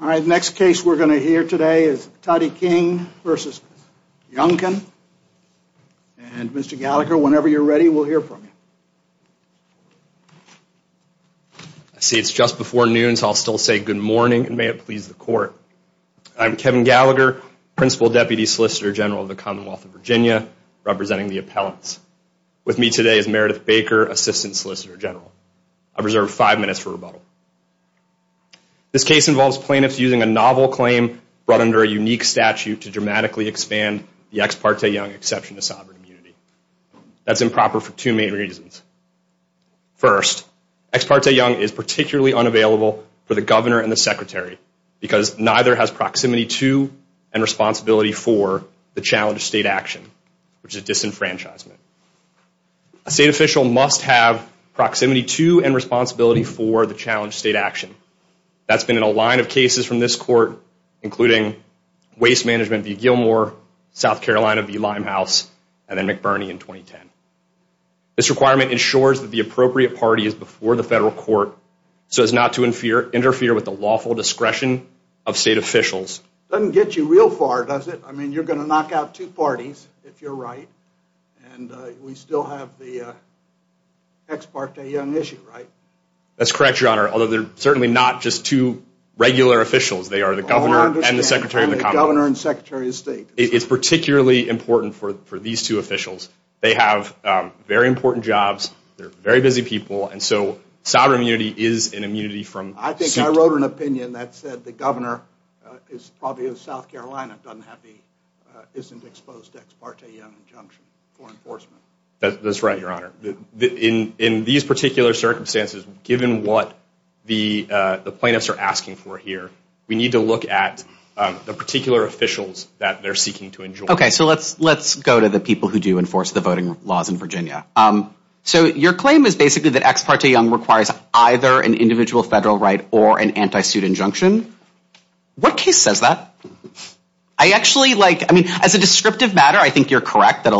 All right, the next case we're going to hear today is Tati King v. Youngkin. And, Mr. Gallagher, whenever you're ready, we'll hear from you. I see it's just before noon, so I'll still say good morning, and may it please the Court. I'm Kevin Gallagher, Principal Deputy Solicitor General of the Commonwealth of Virginia, representing the appellants. With me today is Meredith Baker, Assistant Solicitor General. I reserve five minutes for rebuttal. This case involves plaintiffs using a novel claim brought under a unique statute to dramatically expand the Ex parte Young exception to sovereign immunity. That's improper for two main reasons. First, Ex parte Young is particularly unavailable for the Governor and the Secretary, because neither has proximity to and responsibility for the challenged state action, which is disenfranchisement. A state official must have proximity to and responsibility for the challenged state action. That's been in a line of cases from this Court, including Waste Management v. Gilmore, South Carolina v. Limehouse, and then McBurney in 2010. This requirement ensures that the appropriate party is before the federal court, so as not to interfere with the lawful discretion of state officials. Doesn't get you real far, does it? I mean, you're going to knock out two parties, if you're right, and we still have the Ex parte Young issue, right? That's correct, Your Honor, although they're certainly not just two regular officials. They are the Governor and the Secretary of the Commonwealth. I understand, the Governor and Secretary of State. It's particularly important for these two officials. They have very important jobs. They're very busy people, and so sovereign immunity is an immunity from suit. I think I wrote an opinion that said the Governor is probably in South Carolina, doesn't have the, isn't exposed to Ex parte Young injunction for enforcement. That's right, Your Honor. In these particular circumstances, given what the plaintiffs are asking for here, we need to look at the particular officials that they're seeking to enjoin. Okay, so let's go to the people who do enforce the voting laws in Virginia. So your claim is basically that Ex parte Young requires either an individual federal right or an anti-suit injunction. What case says that? I actually, like, I mean, as a descriptive matter, I think you're correct that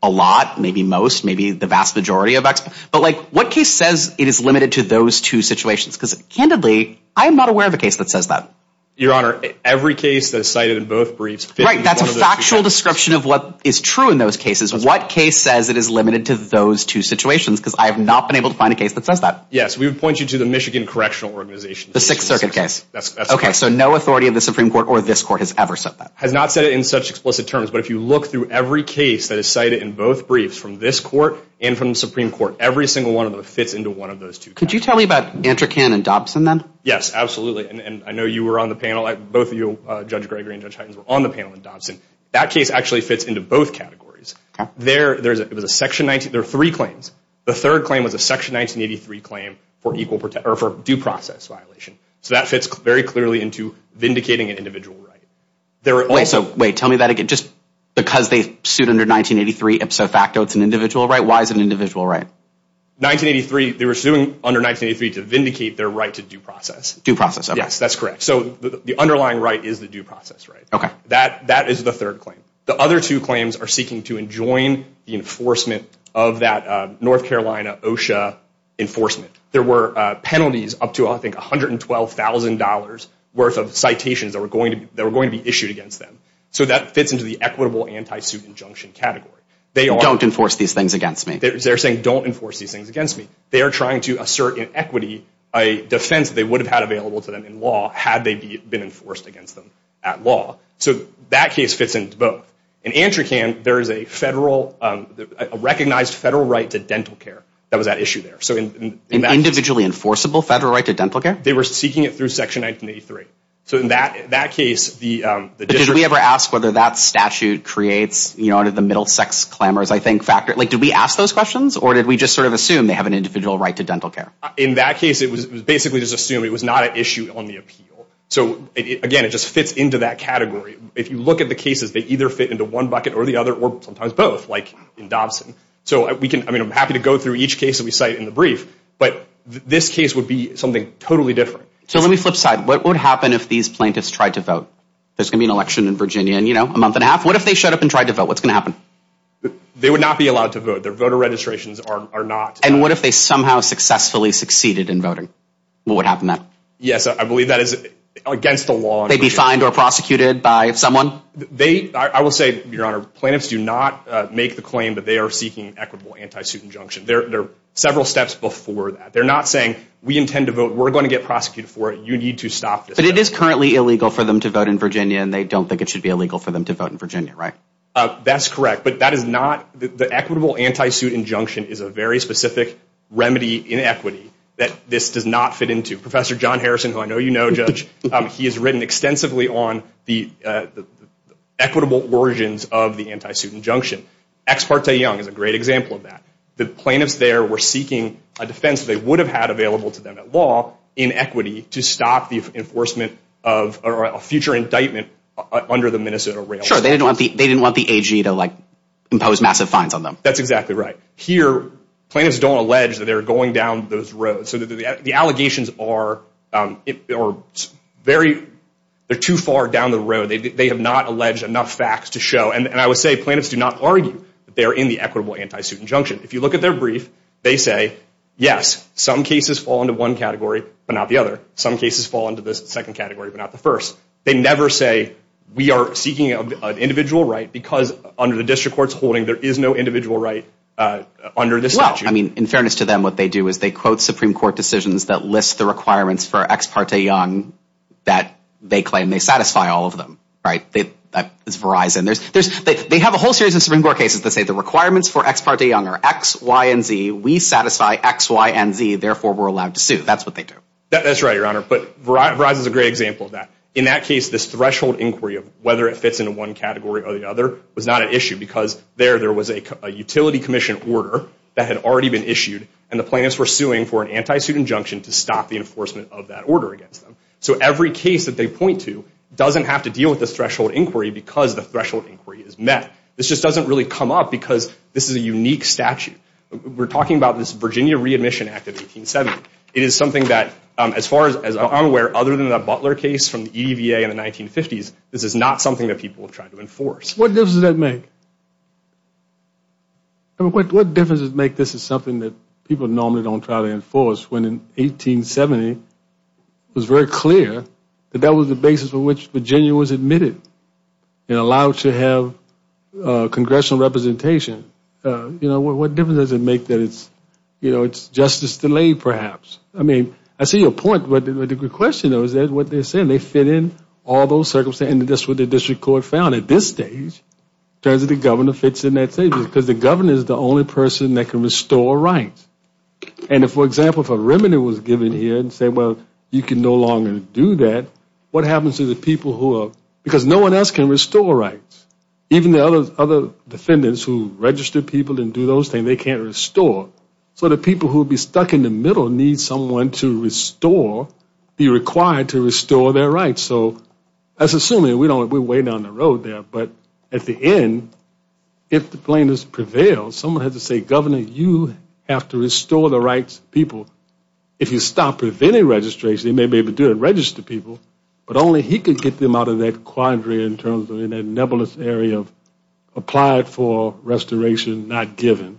a lot, maybe most, maybe the vast majority of Ex, but, like, what case says it is limited to those two situations? Because, candidly, I am not aware of a case that says that. Your Honor, every case that is cited in both briefs. Right, that's a factual description of what is true in those cases. What case says it is limited to those two situations? Because I have not been able to find a case that says that. Yes, we would point you to the Michigan Correctional Organization. The Sixth Circuit case. Okay, so no authority of the Supreme Court or this Court has ever said that. Has not said it in such explicit terms. But if you look through every case that is cited in both briefs from this Court and from the Supreme Court, every single one of them fits into one of those two cases. Could you tell me about Antrocan and Dobson, then? Yes, absolutely. And I know you were on the panel. Both of you, Judge Gregory and Judge Hytens, were on the panel in Dobson. That case actually fits into both categories. There was a Section 19, there were three claims. The third claim was a Section 1983 claim for due process violation. So that fits very clearly into vindicating an individual right. Wait, so, wait, tell me that again. Just because they sued under 1983, ipso facto, it's an individual right? Why is it an individual right? 1983, they were suing under 1983 to vindicate their right to due process. Due process, okay. Yes, that's correct. So the underlying right is the due process right. Okay. That is the third claim. The other two claims are seeking to enjoin the enforcement of that North Carolina OSHA enforcement. There were penalties up to, I think, $112,000 worth of citations that were going to be issued against them. So that fits into the equitable anti-suit injunction category. Don't enforce these things against me. They're saying don't enforce these things against me. They are trying to assert inequity, a defense they would have had available to them in law, had they been enforced against them at law. So that case fits into both. In ANTRCAN, there is a federal, a recognized federal right to dental care that was at issue there. An individually enforceable federal right to dental care? They were seeking it through Section 1983. So in that case, the district... Did we ever ask whether that statute creates, you know, under the middle sex clamors, I think, factor? Like, did we ask those questions or did we just sort of assume they have an individual right to dental care? In that case, it was basically just assumed. It was not at issue on the appeal. So, again, it just fits into that category. If you look at the cases, they either fit into one bucket or the other or sometimes both, like in Dobson. So we can... I mean, I'm happy to go through each case that we cite in the brief, but this case would be something totally different. So let me flip side. What would happen if these plaintiffs tried to vote? There's going to be an election in Virginia in, you know, a month and a half. What if they showed up and tried to vote? What's going to happen? They would not be allowed to vote. Their voter registrations are not... And what if they somehow successfully succeeded in voting? What would happen then? Yes, I believe that is against the law. They'd be fined or prosecuted by someone? They... I will say, Your Honor, plaintiffs do not make the claim that they are seeking an equitable anti-suit injunction. There are several steps before that. They're not saying, we intend to vote, we're going to get prosecuted for it, you need to stop this. But it is currently illegal for them to vote in Virginia and they don't think it should be illegal for them to vote in Virginia, right? That's correct. But that is not... The equitable anti-suit injunction is a very specific remedy in equity that this does not fit into. Professor John Harrison, who I know you know, Judge, he has written extensively on the equitable versions of the anti-suit injunction. Ex parte Young is a great example of that. The plaintiffs there were seeking a defense they would have had available to them at law in equity to stop the enforcement of a future indictment under the Minnesota Railroad. Sure, they didn't want the AG to impose massive fines on them. That's exactly right. Here, plaintiffs don't allege that they're going down those roads. So the allegations are very... They're too far down the road. They have not alleged enough facts to show. And I would say, plaintiffs do not argue that they are in the equitable anti-suit injunction. If you look at their brief, they say, yes, some cases fall into one category, but not the other. Some cases fall into the second category, but not the first. They never say, we are seeking an individual right because under the district court's holding, there is no individual right under this statute. Well, I mean, in fairness to them, what they do is they quote Supreme Court decisions that list the requirements for ex parte Young that they claim they satisfy all of them. That is Verizon. They have a whole series of Supreme Court cases that say the requirements for ex parte Young are X, Y, and Z. We satisfy X, Y, and Z. Therefore, we're allowed to sue. That's what they do. That's right, Your Honor. But Verizon is a great example of that. In that case, this threshold inquiry of whether it fits into one category or the other was not an issue because there, there was a utility commission order that had already been issued, and the plaintiffs were suing for an anti-suit injunction to stop the enforcement of that order against them. So every case that they point to doesn't have to deal with this threshold inquiry because the threshold inquiry is met. This just doesn't really come up because this is a unique statute. We're talking about this Virginia Readmission Act of 1870. It is something that, as far as I'm aware, other than the Butler case from the EDVA in the 1950s, this is not something that people have tried to enforce. What difference does that make? I mean, what difference does it make this is something that people normally don't try to enforce when in 1870 it was very clear that that was the basis on which Virginia was admitted and allowed to have congressional representation? You know, what difference does it make that it's, you know, it's justice delayed perhaps? I mean, I see your point, but the question though is what they're saying. They fit in all those circumstances. That's what the district court found at this stage. It turns out the governor fits in that stage because the governor is the only person that can restore rights. And if, for example, if a remedy was given here and said, well, you can no longer do that, what happens to the people who are, because no one else can restore rights, even the other defendants who register people and do those things, they can't restore. So the people who would be stuck in the middle need someone to restore, be required to restore their rights. So that's assuming we're way down the road there. But at the end, if the plaintiffs prevail, someone has to say, Governor, you have to restore the rights of people. If you stop preventing registration, you may be able to register people, but only he can get them out of that quandary in terms of that nebulous area of applied for restoration, not given,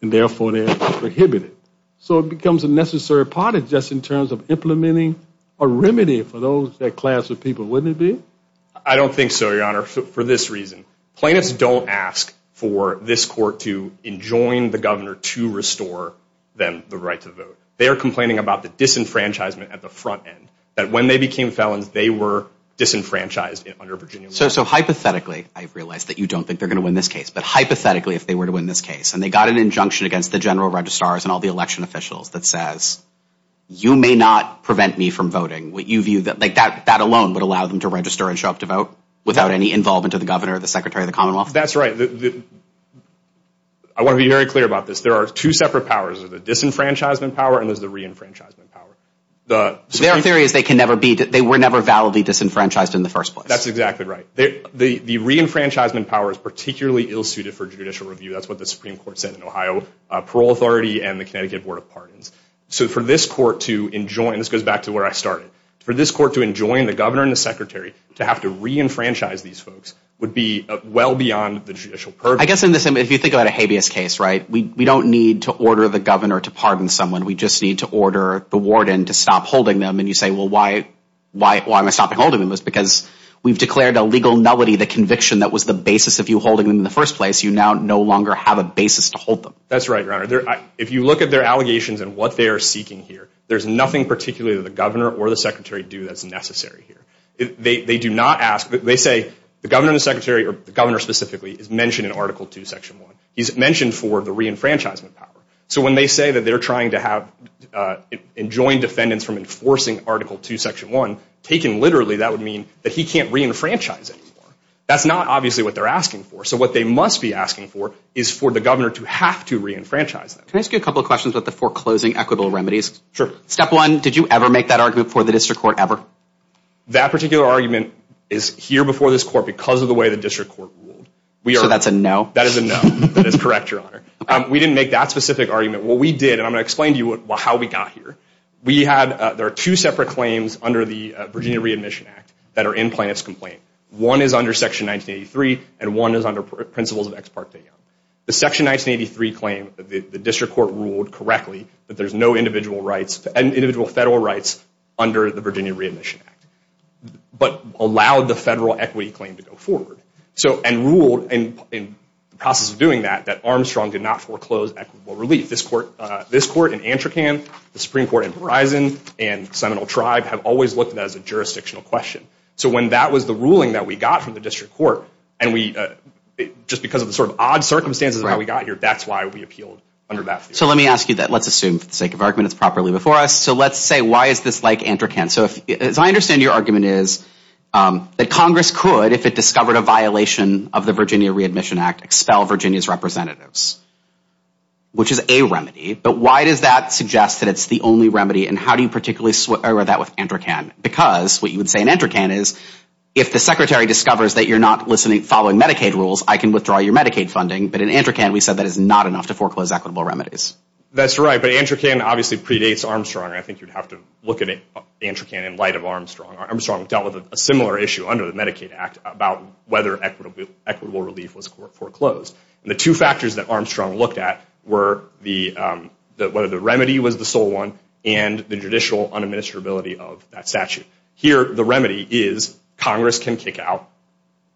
and therefore they're prohibited. So it becomes a necessary part just in terms of implementing a remedy for those, that class of people, wouldn't it be? I don't think so, Your Honor, for this reason. Plaintiffs don't ask for this court to enjoin the governor to restore them the right to vote. They are complaining about the disenfranchisement at the front end, that when they became felons they were disenfranchised under Virginia law. So hypothetically, I realize that you don't think they're going to win this case, but hypothetically if they were to win this case and they got an injunction against the general registrars and all the election officials that says, you may not prevent me from voting, would you view that, like that alone would allow them to register and show up to vote without any involvement of the governor or the secretary of the commonwealth? That's right. I want to be very clear about this. There are two separate powers. There's the disenfranchisement power and there's the reenfranchisement power. Their theory is they were never validly disenfranchised in the first place. That's exactly right. The reenfranchisement power is particularly ill-suited for judicial review. That's what the Supreme Court said in Ohio, Parole Authority and the Connecticut Board of Pardons. So for this court to enjoin, this goes back to where I started, for this court to enjoin the governor and the secretary to have to reenfranchise these folks would be well beyond the judicial purview. I guess in this, if you think about a habeas case, right, we don't need to order the governor to pardon someone. We just need to order the warden to stop holding them. And you say, well, why am I stopping holding them? It's because we've declared a legal nullity, the conviction that was the basis of you holding them in the first place. You now no longer have a basis to hold them. That's right, Your Honor. If you look at their allegations and what they are seeking here, there's nothing particularly that the governor or the secretary do that's necessary here. They do not ask. They say the governor and the secretary, or the governor specifically, is mentioned in Article II, Section 1. He's mentioned for the reenfranchisement power. So when they say that they're trying to have enjoined defendants from enforcing Article II, Section 1, taken literally, that would mean that he can't reenfranchise anymore. That's not obviously what they're asking for. So what they must be asking for is for the governor to have to reenfranchise them. Can I ask you a couple of questions about the foreclosing equitable remedies? Sure. Step one, did you ever make that argument before the district court ever? That particular argument is here before this court because of the way the district court ruled. So that's a no? That is a no. That is correct, Your Honor. We didn't make that specific argument. What we did, and I'm going to explain to you how we got here, there are two separate claims under the Virginia Readmission Act that are in Plaintiff's Complaint. One is under Section 1983, and one is under Principles of Ex Parte Young. The Section 1983 claim, the district court ruled correctly that there's no individual rights, individual federal rights, under the Virginia Readmission Act, but allowed the federal equity claim to go forward, and ruled in the process of doing that, that Armstrong did not foreclose equitable relief. This court in Antrocan, the Supreme Court in Verizon, and Seminole Tribe have always looked at that as a jurisdictional question. So when that was the ruling that we got from the district court, and just because of the sort of odd circumstances that we got here, that's why we appealed under that. So let me ask you that. Let's assume, for the sake of argument, it's properly before us. So let's say, why is this like Antrocan? So as I understand your argument is that Congress could, if it discovered a violation of the Virginia Readmission Act, expel Virginia's representatives, which is a remedy. But why does that suggest that it's the only remedy, and how do you particularly square that with Antrocan? Because what you would say in Antrocan is, if the secretary discovers that you're not following Medicaid rules, I can withdraw your Medicaid funding. But in Antrocan, we said that is not enough to foreclose equitable remedies. That's right, but Antrocan obviously predates Armstrong, and I think you'd have to look at Antrocan in light of Armstrong. Armstrong dealt with a similar issue under the Medicaid Act about whether equitable relief was foreclosed. And the two factors that Armstrong looked at were whether the remedy was the sole one and the judicial unadministrability of that statute. Here, the remedy is Congress can kick out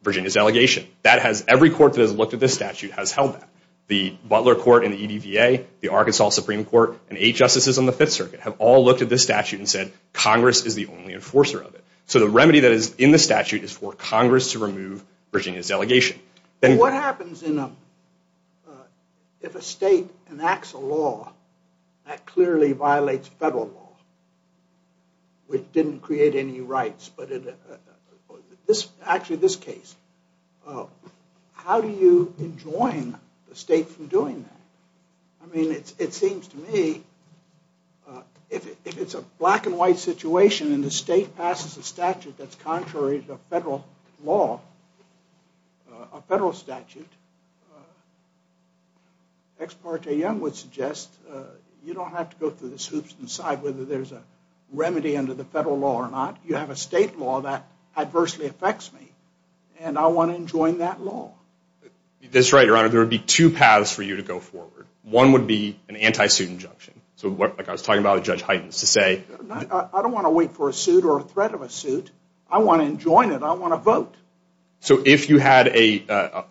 Virginia's delegation. Every court that has looked at this statute has held that. The Butler Court and the EDVA, the Arkansas Supreme Court, and eight justices on the Fifth Circuit have all looked at this statute and said Congress is the only enforcer of it. So the remedy that is in the statute is for Congress to remove Virginia's delegation. But what happens if a state enacts a law that clearly violates federal law, which didn't create any rights? Actually, this case. How do you enjoin the state from doing that? I mean, it seems to me, if it's a black-and-white situation and the state passes a statute that's contrary to federal law, a federal statute, Ex parte Young would suggest you don't have to go through the swoops and decide whether there's a remedy under the federal law or not. You have a state law that adversely affects me, and I want to enjoin that law. That's right, Your Honor. There would be two paths for you to go forward. One would be an anti-suit injunction. So like I was talking about with Judge Heitens, to say... I don't want to wait for a suit or a threat of a suit. I want to enjoin it. I want to vote. So if you had an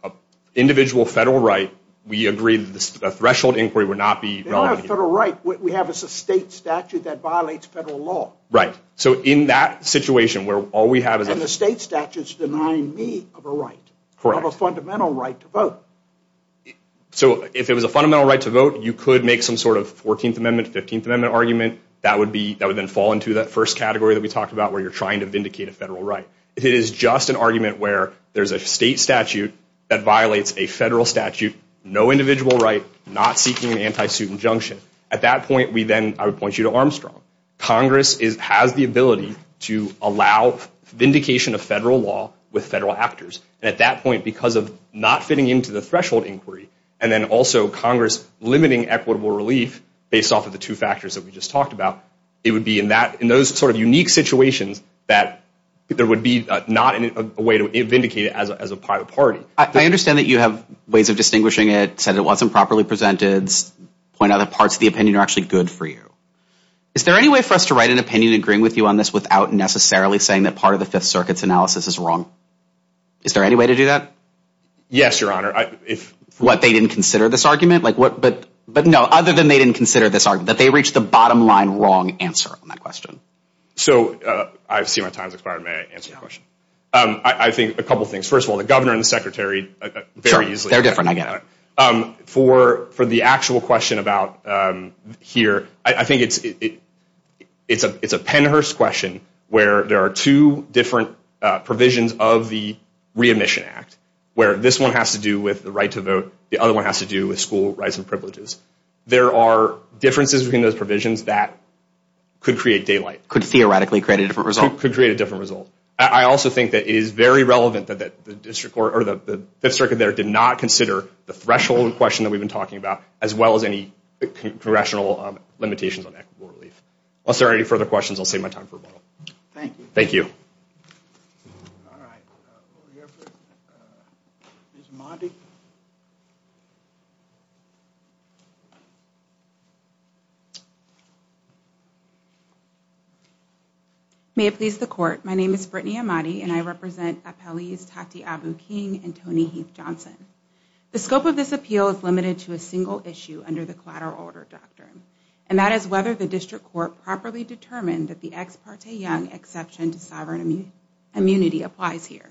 individual federal right, we agree that a threshold inquiry would not be relevant here. They don't have a federal right. What we have is a state statute that violates federal law. Right. So in that situation where all we have is a... And the state statute is denying me of a right, of a fundamental right to vote. So if it was a fundamental right to vote, you could make some sort of 14th Amendment, 15th Amendment argument that would then fall into that first category that we talked about where you're trying to vindicate a federal right. If it is just an argument where there's a state statute that violates a federal statute, no individual right, not seeking an anti-suit injunction, at that point, I would point you to Armstrong. Congress has the ability to allow vindication of federal law with federal actors. And at that point, because of not fitting into the threshold inquiry and then also Congress limiting equitable relief based off of the two factors that we just talked about, it would be in those sort of unique situations that there would be not a way to vindicate it as a private party. I understand that you have ways of distinguishing it, said it wasn't properly presented, point out that parts of the opinion are actually good for you. Is there any way for us to write an opinion agreeing with you on this without necessarily saying that part of the Fifth Circuit's analysis is wrong? Is there any way to do that? Yes, Your Honor. What, they didn't consider this argument? But no, other than they didn't consider this argument, that they reached the bottom line wrong answer on that question. So, I see my time has expired. May I answer the question? I think a couple of things. First of all, the governor and the secretary very easily... Sure, they're different, I get it. For the actual question about here, I think it's a Pennhurst question where there are two different provisions of the Re-Admission Act where this one has to do with the right to vote, the other one has to do with school rights and privileges. There are differences between those provisions that could create daylight. Could theoretically create a different result. Could create a different result. I also think that it is very relevant that the Fifth Circuit there did not consider the threshold question that we've been talking about as well as any congressional limitations on equitable relief. Unless there are any further questions, I'll save my time for a moment. Thank you. Thank you. All right. Over here, please. Ms. Ahmadi. May it please the Court, my name is Brittany Ahmadi and I represent Appellees Tati Abu-King and Tony Heath-Johnson. The scope of this appeal is limited to a single issue under the Collateral Order Doctrine and that is whether the District Court properly determined that the ex parte young exception to sovereign immunity applies here.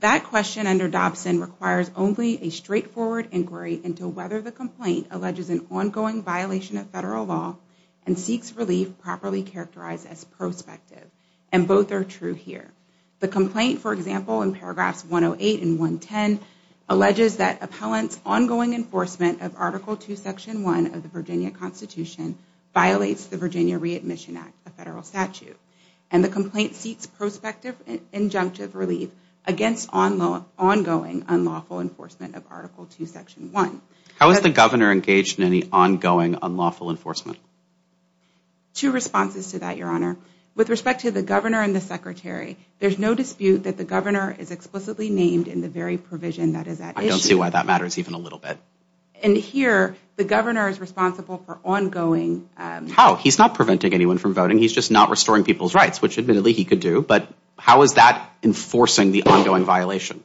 That question under Dobson requires only a straightforward inquiry into whether the complaint alleges an ongoing violation of federal law and seeks relief properly characterized as prospective. And both are true here. The complaint, for example, in paragraphs 108 and 110 alleges that appellant's ongoing enforcement of Article 2, Section 1 of the Virginia Constitution violates the Virginia Readmission Act, a federal statute. And the complaint seeks prospective injunctive relief against ongoing unlawful enforcement of Article 2, Section 1. How is the Governor engaged in any ongoing unlawful enforcement? Two responses to that, Your Honor. With respect to the Governor and the Secretary, there's no dispute that the Governor is explicitly named in the very provision that is at issue. I don't see why that matters even a little bit. And here, the Governor is responsible for ongoing... How? He's not preventing anyone from voting, he's just not restoring people's rights, which admittedly he could do, but how is that enforcing the ongoing violation?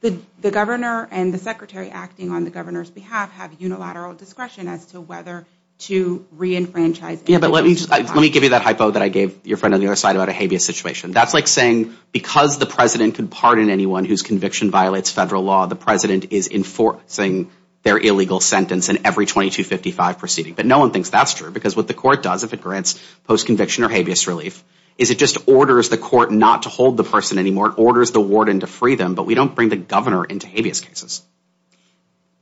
The Governor and the Secretary acting on the Governor's behalf have unilateral discretion as to whether to re-enfranchise individuals Let me give you that hypo that I gave your friend on the other side about a habeas situation. That's like saying, because the President can pardon anyone whose conviction violates federal law, the President is enforcing their illegal sentence in every 2255 proceeding. But no one thinks that's true, because what the Court does if it grants post-conviction or habeas relief is it just orders the Court not to hold the person anymore, it orders the Warden to free them, but we don't bring the Governor into habeas cases.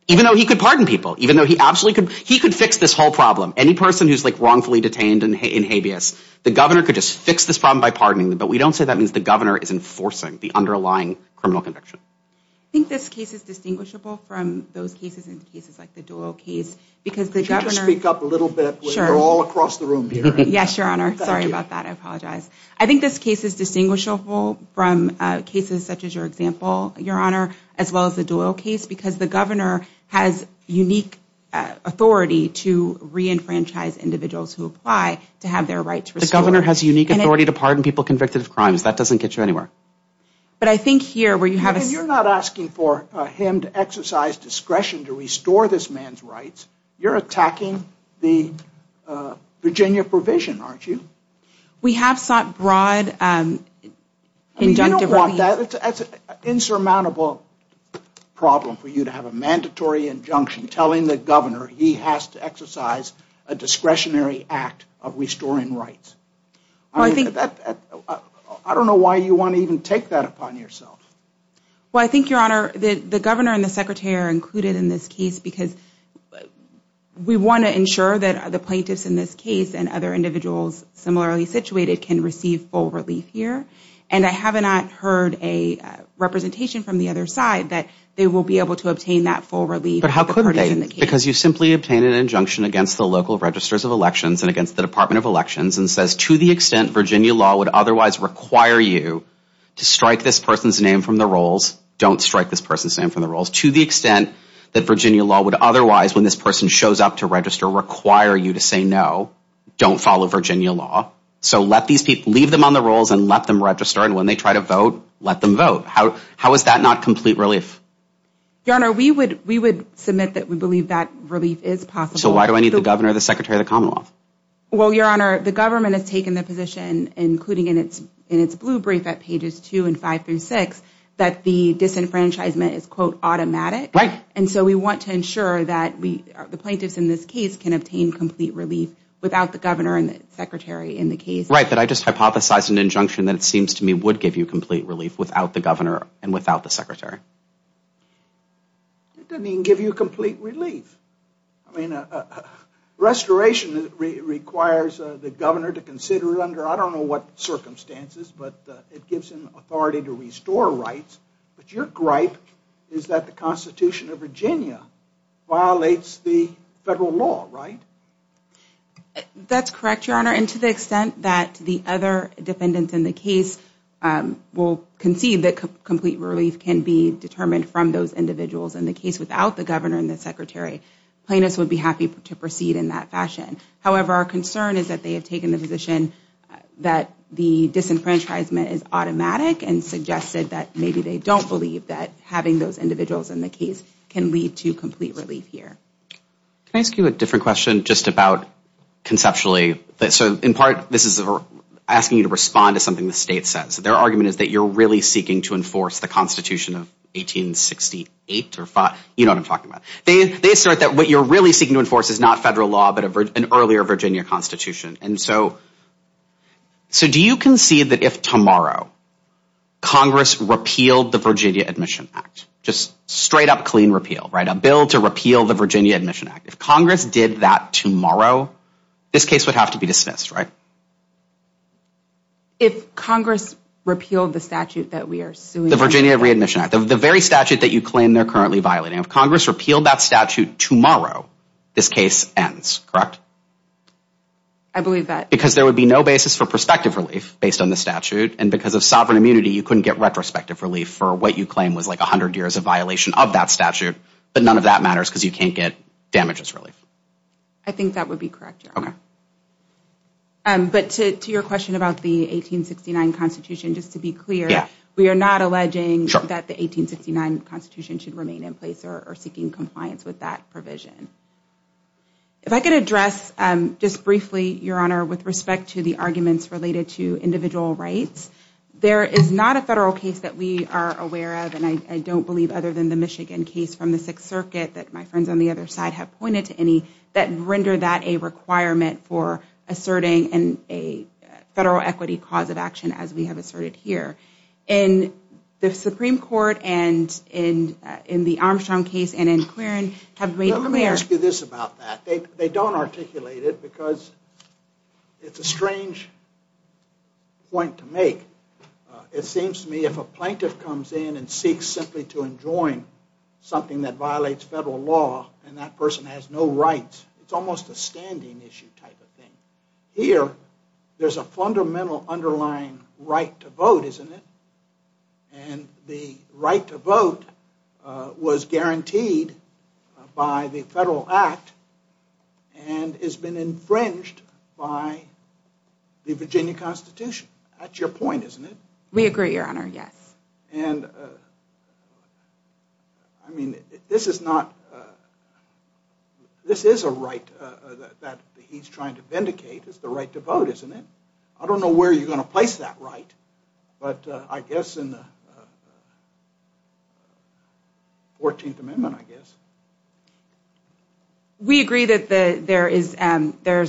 Even though he could pardon people, even though he absolutely could, he could fix this whole problem. Any person who's wrongfully detained in habeas, the Governor could just fix this problem by pardoning them, but we don't say that means the Governor is enforcing the underlying criminal conviction. I think this case is distinguishable from those cases and cases like the Doyle case, because the Governor... Could you just speak up a little bit? Sure. We're all across the room here. Yes, Your Honor. Sorry about that. I apologize. I think this case is distinguishable from cases such as your example, Your Honor, as well as the Doyle case, because the Governor has unique authority to re-enfranchise individuals who apply to have their rights restored. The Governor has unique authority to pardon people convicted of crimes. That doesn't get you anywhere. But I think here, where you have a... You're not asking for him to exercise discretion to restore this man's rights. You're attacking the Virginia provision, aren't you? We have sought broad injunctive relief... That's an insurmountable problem for you to have a mandatory injunction telling the Governor he has to exercise a discretionary act of restoring rights. I don't know why you want to even take that upon yourself. Well, I think, Your Honor, the Governor and the Secretary are included in this case because we want to ensure that the plaintiffs in this case and other individuals similarly situated can receive full relief here. And I have not heard a representation from the other side that they will be able to obtain that full relief. But how could they? Because you simply obtained an injunction against the local registers of elections and against the Department of Elections and says to the extent Virginia law would otherwise require you to strike this person's name from the rolls, don't strike this person's name from the rolls, to the extent that Virginia law would otherwise, when this person shows up to register, require you to say no, don't follow Virginia law. So leave them on the rolls and let them register and when they try to vote, let them vote. How is that not complete relief? Your Honor, we would submit that we believe that relief is possible. So why do I need the Governor and the Secretary of the Commonwealth? Well, Your Honor, the Government has taken the position, including in its blue brief at pages 2 and 5 through 6, that the disenfranchisement is, quote, automatic. And so we want to ensure that the plaintiffs in this case can obtain complete relief without the Governor and the Secretary in the case. Right, but I just hypothesized an injunction that it seems to me would give you complete relief without the Governor and without the Secretary. It doesn't even give you complete relief. I mean, restoration requires the Governor to consider it under I don't know what circumstances, but it gives him authority to restore rights. But your gripe is that the Constitution of Virginia violates the federal law, right? That's correct, Your Honor. And to the extent that the other defendants in the case will concede that complete relief can be determined from those individuals in the case without the Governor and the Secretary, plaintiffs would be happy to proceed in that fashion. However, our concern is that they have taken the position that the disenfranchisement is automatic and suggested that maybe they don't believe that having those individuals in the case can lead to complete relief here. Can I ask you a different question just about conceptually? So in part, this is asking you to respond to something the state says. Their argument is that you're really seeking to enforce the Constitution of 1868. You know what I'm talking about. They assert that what you're really seeking to enforce is not federal law but an earlier Virginia Constitution. And so do you concede that if tomorrow Congress repealed the Virginia Admission Act, just straight up clean repeal, right, a bill to repeal the Virginia Admission Act, if Congress did that tomorrow, this case would have to be dismissed, right? If Congress repealed the statute that we are suing... The Virginia Readmission Act, the very statute that you claim they're currently violating. If Congress repealed that statute tomorrow, this case ends, correct? I believe that. Because there would be no basis for prospective relief based on the statute, and because of sovereign immunity, you couldn't get retrospective relief for what you claim was like 100 years of violation of that statute. But none of that matters because you can't get damages relief. I think that would be correct, Your Honor. But to your question about the 1869 Constitution, just to be clear, we are not alleging that the 1869 Constitution should remain in place or seeking compliance with that provision. If I could address just briefly, Your Honor, with respect to the arguments related to individual rights, there is not a federal case that we are aware of, and I don't believe other than the Michigan case from the Sixth Circuit that my friends on the other side have pointed to any, that render that a requirement for asserting a federal equity cause of action as we have asserted here. And the Supreme Court and in the Armstrong case and in Clarence have made clear... Let me ask you this about that. They don't articulate it because it's a strange point to make. It seems to me if a plaintiff comes in and seeks simply to enjoin something that violates federal law and that person has no rights, it's almost a standing issue type of thing. Here, there's a fundamental underlying right to vote, isn't it? And the right to vote was guaranteed by the federal act and has been infringed by the Virginia Constitution. That's your point, isn't it? We agree, Your Honor, yes. And, I mean, this is not... This is a right that he's trying to vindicate. It's the right to vote, isn't it? I don't know where you're going to place that right, but I guess in the 14th Amendment, I guess. We agree that there is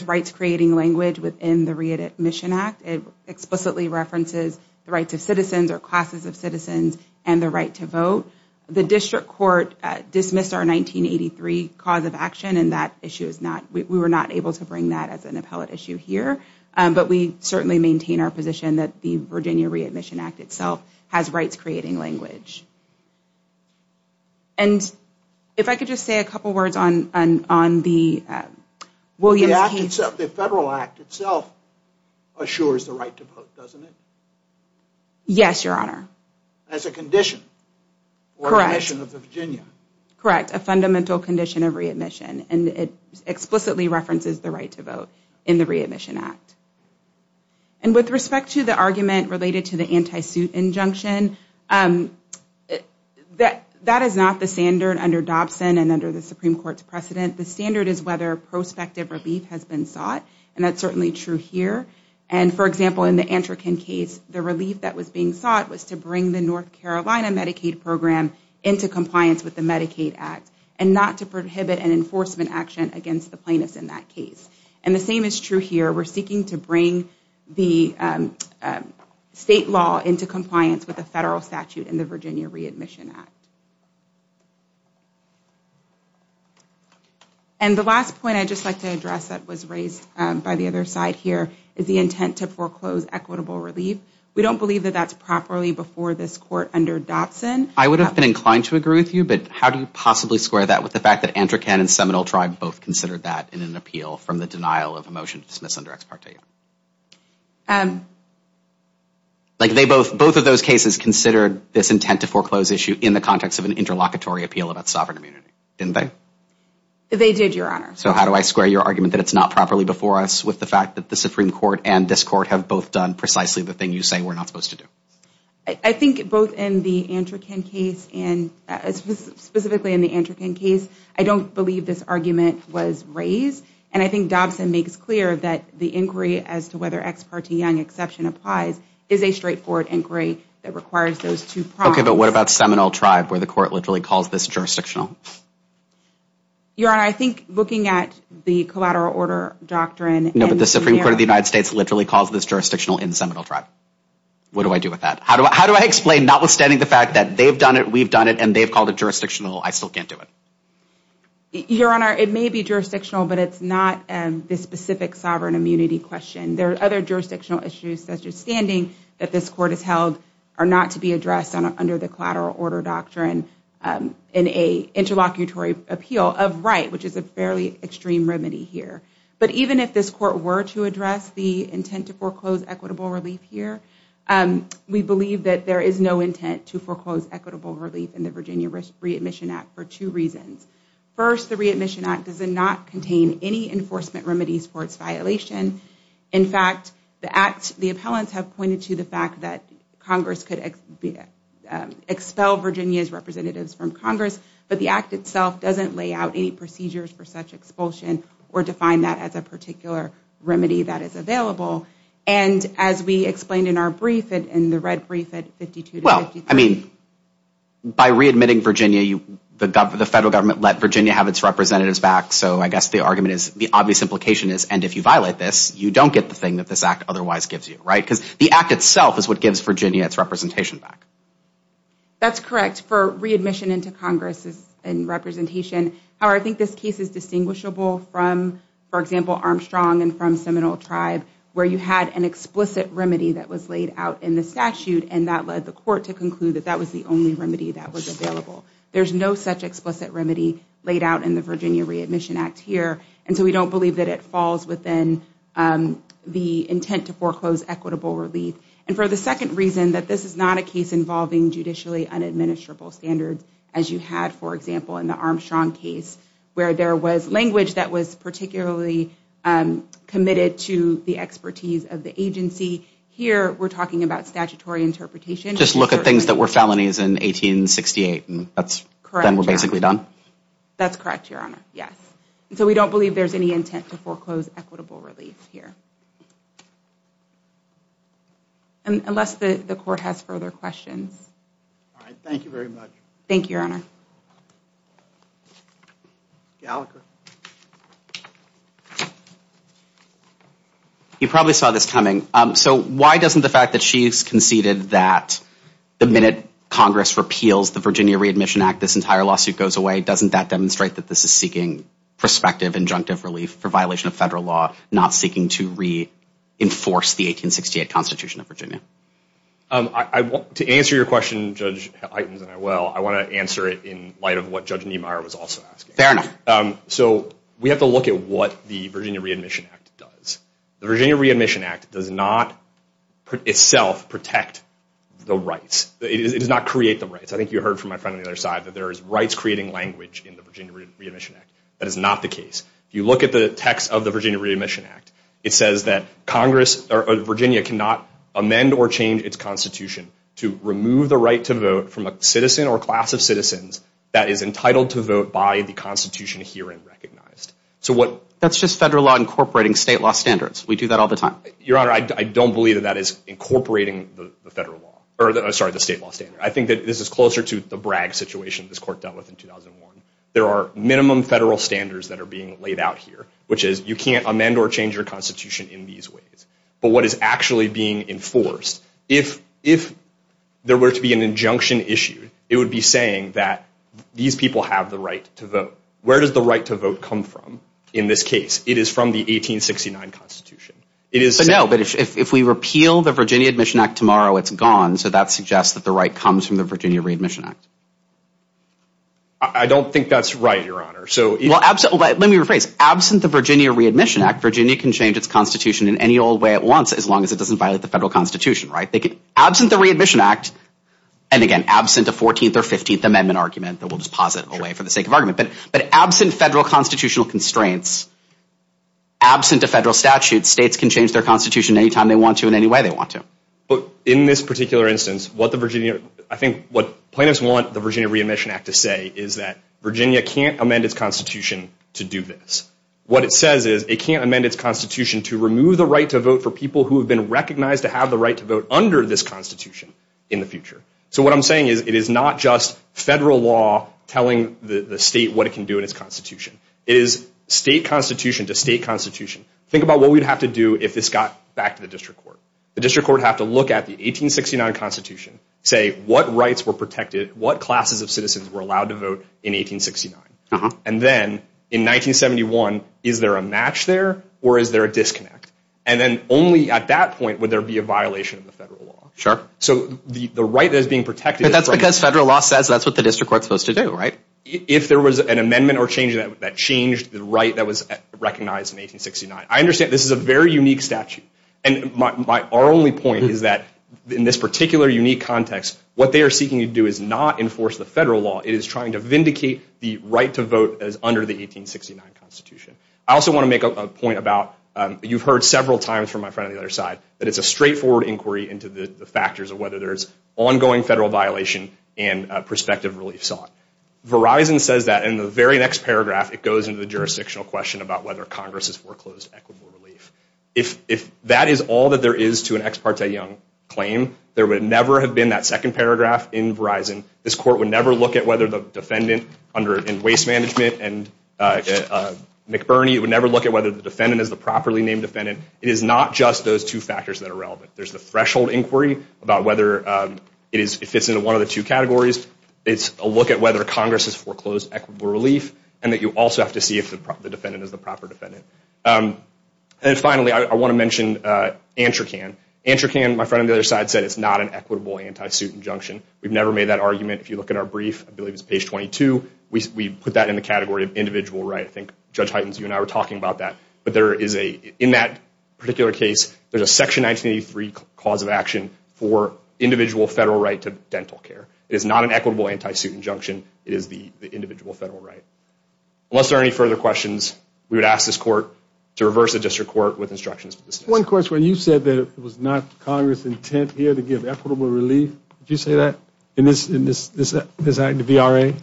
rights-creating language within the Readmission Act. It explicitly references the rights of citizens or classes of citizens and the right to vote. The district court dismissed our 1983 cause of action and that issue is not... We were not able to bring that as an appellate issue here, but we certainly maintain our position that the Virginia Readmission Act itself has rights-creating language. And if I could just say a couple of words on the Williams case... The federal act itself assures the right to vote, doesn't it? Yes, Your Honor. As a condition. Correct. Or a condition of the Virginia. Correct, a fundamental condition of readmission. And it explicitly references the right to vote in the Readmission Act. And with respect to the argument related to the anti-suit injunction, that is not the standard under Dobson and under the Supreme Court's precedent. The standard is whether prospective relief has been sought and that's certainly true here. And for example, in the Antrokin case, the relief that was being sought was to bring the North Carolina Medicaid program into compliance with the Medicaid Act and not to prohibit an enforcement action against the plaintiffs in that case. And the same is true here. We're seeking to bring the state law into compliance with the federal statute in the Virginia Readmission Act. And the last point I'd just like to address that was raised by the other side here is the intent to foreclose equitable relief. We don't believe that that's properly before this court under Dobson. I would have been inclined to agree with you, but how do you possibly square that with the fact that Antrokin and Seminole Tribe both considered that in an appeal from the denial of a motion to dismiss under Ex Parte? Like they both, both of those cases, considered this intent to foreclose issue in the context of an interlocutory appeal about sovereign immunity, didn't they? They did, Your Honor. So how do I square your argument that it's not properly before us with the fact that the Supreme Court and this court have both done precisely the thing you say we're not supposed to do? I think both in the Antrokin case and specifically in the Antrokin case, I don't believe this argument was raised. And I think Dobson makes clear that the inquiry as to whether Ex Parte Young exception applies is a straightforward inquiry that requires those two promises. Okay, but what about Seminole Tribe, where the court literally calls this jurisdictional? Your Honor, I think looking at the collateral order doctrine... No, but the Supreme Court of the United States literally calls this jurisdictional in the Seminole Tribe. What do I do with that? How do I explain, notwithstanding the fact that they've done it, we've done it, and they've called it jurisdictional, I still can't do it? Your Honor, it may be jurisdictional, but it's not this specific sovereign immunity question. There are other jurisdictional issues, such as standing that this court has held are not to be addressed under the collateral order doctrine in a interlocutory appeal of right, which is a fairly extreme remedy here. But even if this court were to address the intent to foreclose equitable relief here, we believe that there is no intent to foreclose equitable relief in the Virginia Re-Admission Act for two reasons. First, the Re-Admission Act does not contain any enforcement remedies for its violation. In fact, the appellants have pointed to the fact that Congress could expel Virginia's representatives from Congress, but the act itself doesn't lay out any procedures for such expulsion or define that as a particular remedy that is available. And as we explained in our brief, in the red brief at 52 to 53. Well, I mean, by re-admitting Virginia, the federal government let Virginia have its representatives back, so I guess the argument is, the obvious implication is, and if you violate this, you don't get the thing that this act otherwise gives you, right? Because the act itself is what gives Virginia its representation back. That's correct. For re-admission into Congress and representation, however, I think this case is distinguishable from, for example, Armstrong and from Seminole Tribe, where you had an explicit remedy that was laid out in the statute and that led the court to conclude that that was the only remedy that was available. There's no such explicit remedy laid out in the Virginia Re-Admission Act here, and so we don't believe that it falls within the intent to foreclose equitable relief. And for the second reason, that this is not a case involving judicially unadministerable standards, as you had, for example, in the Armstrong case, where there was language that was particularly committed to the expertise of the agency. Here, we're talking about statutory interpretation. Just look at things that were felonies in 1868, and then we're basically done? That's correct, Your Honor, yes. So we don't believe there's any intent to foreclose equitable relief here. Unless the court has further questions. All right, thank you very much. Thank you, Your Honor. You probably saw this coming. So why doesn't the fact that she's conceded that the minute Congress repeals the Virginia Re-Admission Act, this entire lawsuit goes away, doesn't that demonstrate that this is seeking prospective injunctive relief for violation of federal law, not seeking to reinforce the 1868 Constitution of Virginia? To answer your question, Judge Heitens, and I will, I want to answer it in light of what Judge Niemeyer was also asking. So we have to look at what the Virginia Re-Admission Act does. The Virginia Re-Admission Act does not itself protect the rights. It does not create the rights. I think you heard from my friend on the other side that there is rights-creating language in the Virginia Re-Admission Act. That is not the case. If you look at the text of the Virginia Re-Admission Act, it says that Virginia cannot amend or change its Constitution to remove the right to vote from a citizen or class of citizens that is entitled to vote by the Constitution herein recognized. That's just federal law incorporating state law standards. We do that all the time. Your Honor, I don't believe that that is incorporating the state law standard. I think that this is closer to the Bragg situation this Court dealt with in 2001. There are minimum federal standards that are being laid out here, which is you can't amend or change your Constitution in these ways. But what is actually being enforced, if there were to be an injunction issued, it would be saying that these people have the right to vote. Where does the right to vote come from in this case? It is from the 1869 Constitution. No, but if we repeal the Virginia Admission Act tomorrow, it's gone, so that suggests that the right comes from the Virginia Re-Admission Act. I don't think that's right, Your Honor. Well, let me rephrase. Absent the Virginia Re-Admission Act, Virginia can change its Constitution in any old way it wants, as long as it doesn't violate the federal Constitution, right? Absent the Re-Admission Act, and again, absent a 14th or 15th Amendment argument that we'll just posit away for the sake of argument, but absent federal constitutional constraints, absent a federal statute, states can change their Constitution any time they want to in any way they want to. But in this particular instance, I think what plaintiffs want the Virginia Re-Admission Act to say is that Virginia can't amend its Constitution to do this. What it says is it can't amend its Constitution to remove the right to vote for people who have been recognized to have the right to vote under this Constitution in the future. So what I'm saying is it is not just federal law telling the state what it can do in its Constitution. It is state Constitution to state Constitution. Think about what we'd have to do if this got back to the District Court. The District Court would have to look at the 1869 Constitution, say what rights were protected, what classes of citizens were allowed to vote in 1869. And then in 1971, is there a match there or is there a disconnect? And then only at that point would there be a violation of the federal law. So the right that is being protected... But that's because federal law says that's what the District Court is supposed to do, right? If there was an amendment or change that changed the right that was recognized in 1869. I understand this is a very unique statute. And our only point is that in this particular unique context, what they are seeking to do is not enforce the federal law. It is trying to vindicate the right to vote that is under the 1869 Constitution. I also want to make a point about... You've heard several times from my friend on the other side that it's a straightforward inquiry into the factors of whether there's ongoing federal violation and prospective relief sought. Verizon says that in the very next paragraph it goes into the jurisdictional question about whether Congress has foreclosed equitable relief. If that is all that there is to an Ex Parte Young claim, there would never have been that second paragraph in Verizon. This Court would never look at whether the defendant in waste management and McBurney, it would never look at whether the defendant is the properly named defendant. It is not just those two factors that are relevant. There's the threshold inquiry about whether it fits into one of the two categories. It's a look at whether Congress has foreclosed equitable relief and that you also have to see if the defendant is the proper defendant. And finally, I want to mention ANTRACAN. ANTRACAN, my friend on the other side, said it's not an equitable anti-suit injunction. We've never made that argument. If you look at our brief, I believe it's page 22, we put that in the category of individual right. I think Judge Heitens, you and I were talking about that. But there is a, in that particular case, there's a section 1983 cause of action for individual federal right to dental care. It is not an equitable anti-suit injunction. It is the individual federal right. Unless there are any further questions, we would ask this Court to reverse the District Court with instructions. One question, you said that it was not Congress' intent here to give equitable relief. Did you say that? In this act, the VRA?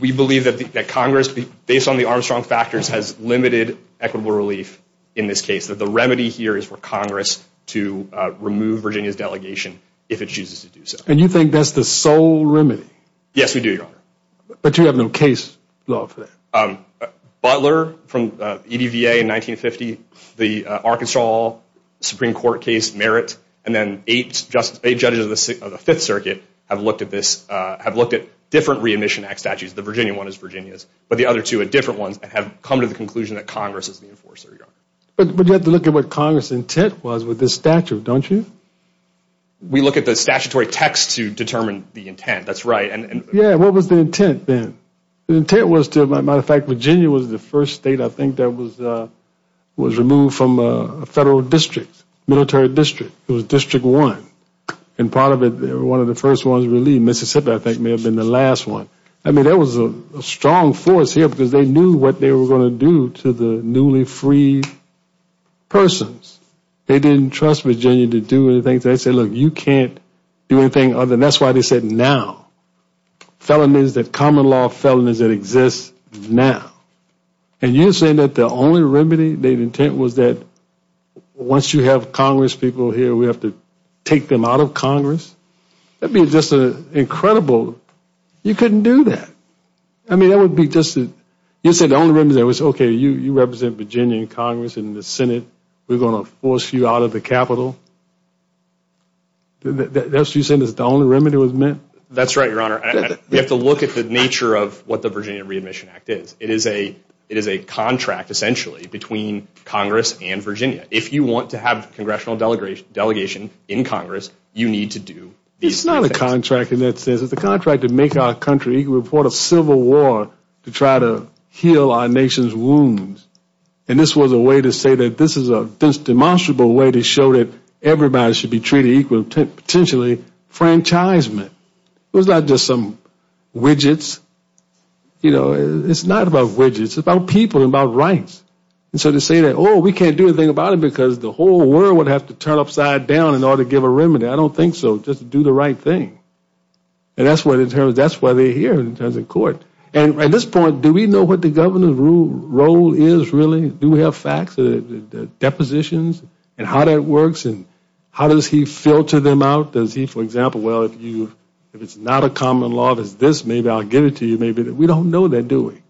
We believe that Congress, based on the Armstrong factors, has limited equitable relief in this case. That the remedy here is for Congress to remove Virginia's delegation if it chooses to do so. And you think that's the sole remedy? Yes, we do, Your Honor. But you have no case law for that? Butler, from EDVA in 1950, the Arkansas Supreme Court case, Merritt, and then eight judges of the Fifth Circuit have looked at this, have looked at different Re-Admission Act statutes. The Virginia one is Virginia's, but the other two are different ones and have come to the conclusion that Congress is the enforcer, But you have to look at what Congress' intent was with this statute, don't you? We look at the statutory text to determine the intent. That's right. Yeah, what was the intent then? The intent was to, as a matter of fact, Virginia was the first state, I think, that was removed from a federal district, military district. It was District 1 and part of it, one of the first ones, Mississippi, I think, may have been the last one. I mean, there was a strong force here because they knew what they were going to do to the newly freed persons. They didn't trust Virginia to do anything. They said, look, you can't do anything other. That's why they said now. Felonies, the common law felonies that exist now. And you're saying that the only remedy, the intent was that once you have Congress people here, we have to take them out of Congress? That would be just incredible. You couldn't do that. I mean, that would be just, you said the only remedy was, okay, you represent Virginia in Congress in the Senate. We're going to force you out of the Capitol. That's what you're saying is the only remedy was meant? That's right, Your Honor. We have to look at the nature of what the Virginia Re-Admission Act is. It is a contract, essentially, between Congress and Virginia. If you want to have a congressional delegation in Congress, you need to do these things. It's not a contract in that sense. It's a contract to make our country equal before the Civil War to try to heal our nation's wounds. And this was a way to say that this is a demonstrable way to show that everybody should be treated equal, potentially, franchisement. It was not just some widgets. You know, it's not about widgets. It's about people and about rights. And so to say that, oh, we can't do anything about it because the whole world has to turn upside down in order to give a remedy, I don't think so. Just do the right thing. And that's why they're here in terms of court. And at this point, do we know what the governor's role is, really? Do we have facts, depositions, and how that works? And how does he filter them out? Does he, for example, well, if it's not a common law, there's this, maybe I'll give it to you, maybe that. We don't know that, do we?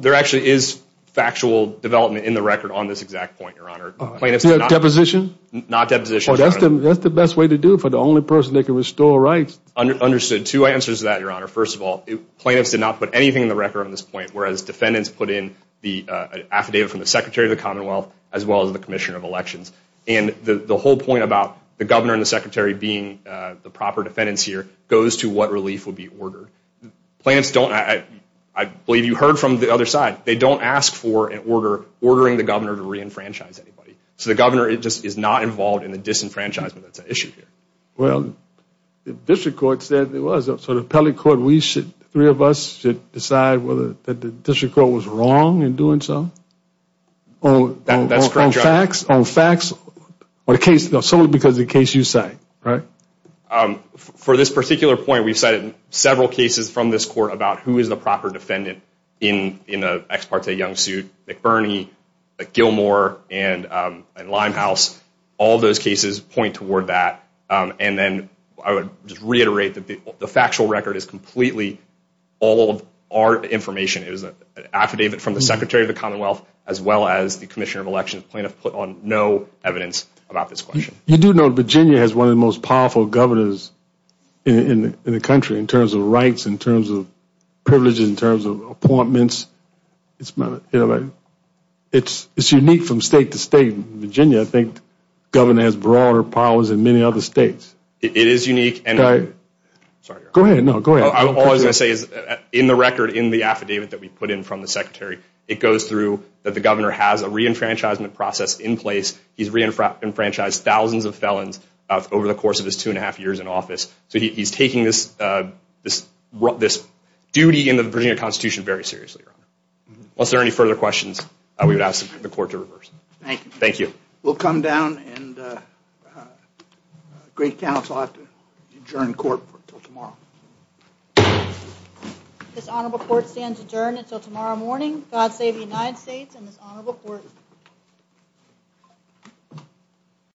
There actually is factual development in the record on this exact point, Your Honor. Deposition? Not deposition, Your Honor. That's the best way to do it for the only person that can restore rights. Understood. Two answers to that, Your Honor. First of all, plaintiffs did not put anything in the record on this point, whereas defendants put in the affidavit from the Secretary of the Commonwealth as well as the Commissioner of Elections. And the whole point about the governor and the secretary being the proper defendants here goes to what relief would be ordered. Plaintiffs don't, I believe you heard from the other side, they don't ask for an order ordering the governor to re-enfranchise anybody. So the governor is just not involved in the disenfranchisement that's at issue here. the district court said it was, so the appellate court, we should, the three of us should decide whether the district court was wrong in doing so? That's correct, Your Honor. On facts, on facts, or the case, solely because of the case you cite, right? For this particular point, we've cited several cases from this court about who is the proper defendant in an ex parte young suit, McBurney, Gilmore, and Limehouse. All those cases point toward that. And then, I would just reiterate that the factual record is completely all of our information. It was an affidavit from the Secretary of the Commonwealth as well as the Commissioner of Election. The plaintiff put on no evidence about this question. You do know Virginia has one of the most powerful governors in the country in terms of rights, in terms of privileges, in terms of appointments. It's my, you know, it's unique from state to state. Virginia, I think, governor has broader powers than many other states. It is unique. Go ahead. No, go ahead. All I was going to say is in the record, in the affidavit that we put in from the Secretary, it goes through that the governor has a reenfranchisement process in place. He's reenfranchised thousands of felons over the course of his two and a half years in office. So he's taking this duty in the Virginia Constitution very seriously, Your Honor. Unless there are any further questions, we would ask the Court to reverse. Thank you. Thank you. We'll come down and the great counsel will have to adjourn the Court until tomorrow. This Honorable Court stands adjourned until tomorrow morning. God save the United States and this Honorable Court.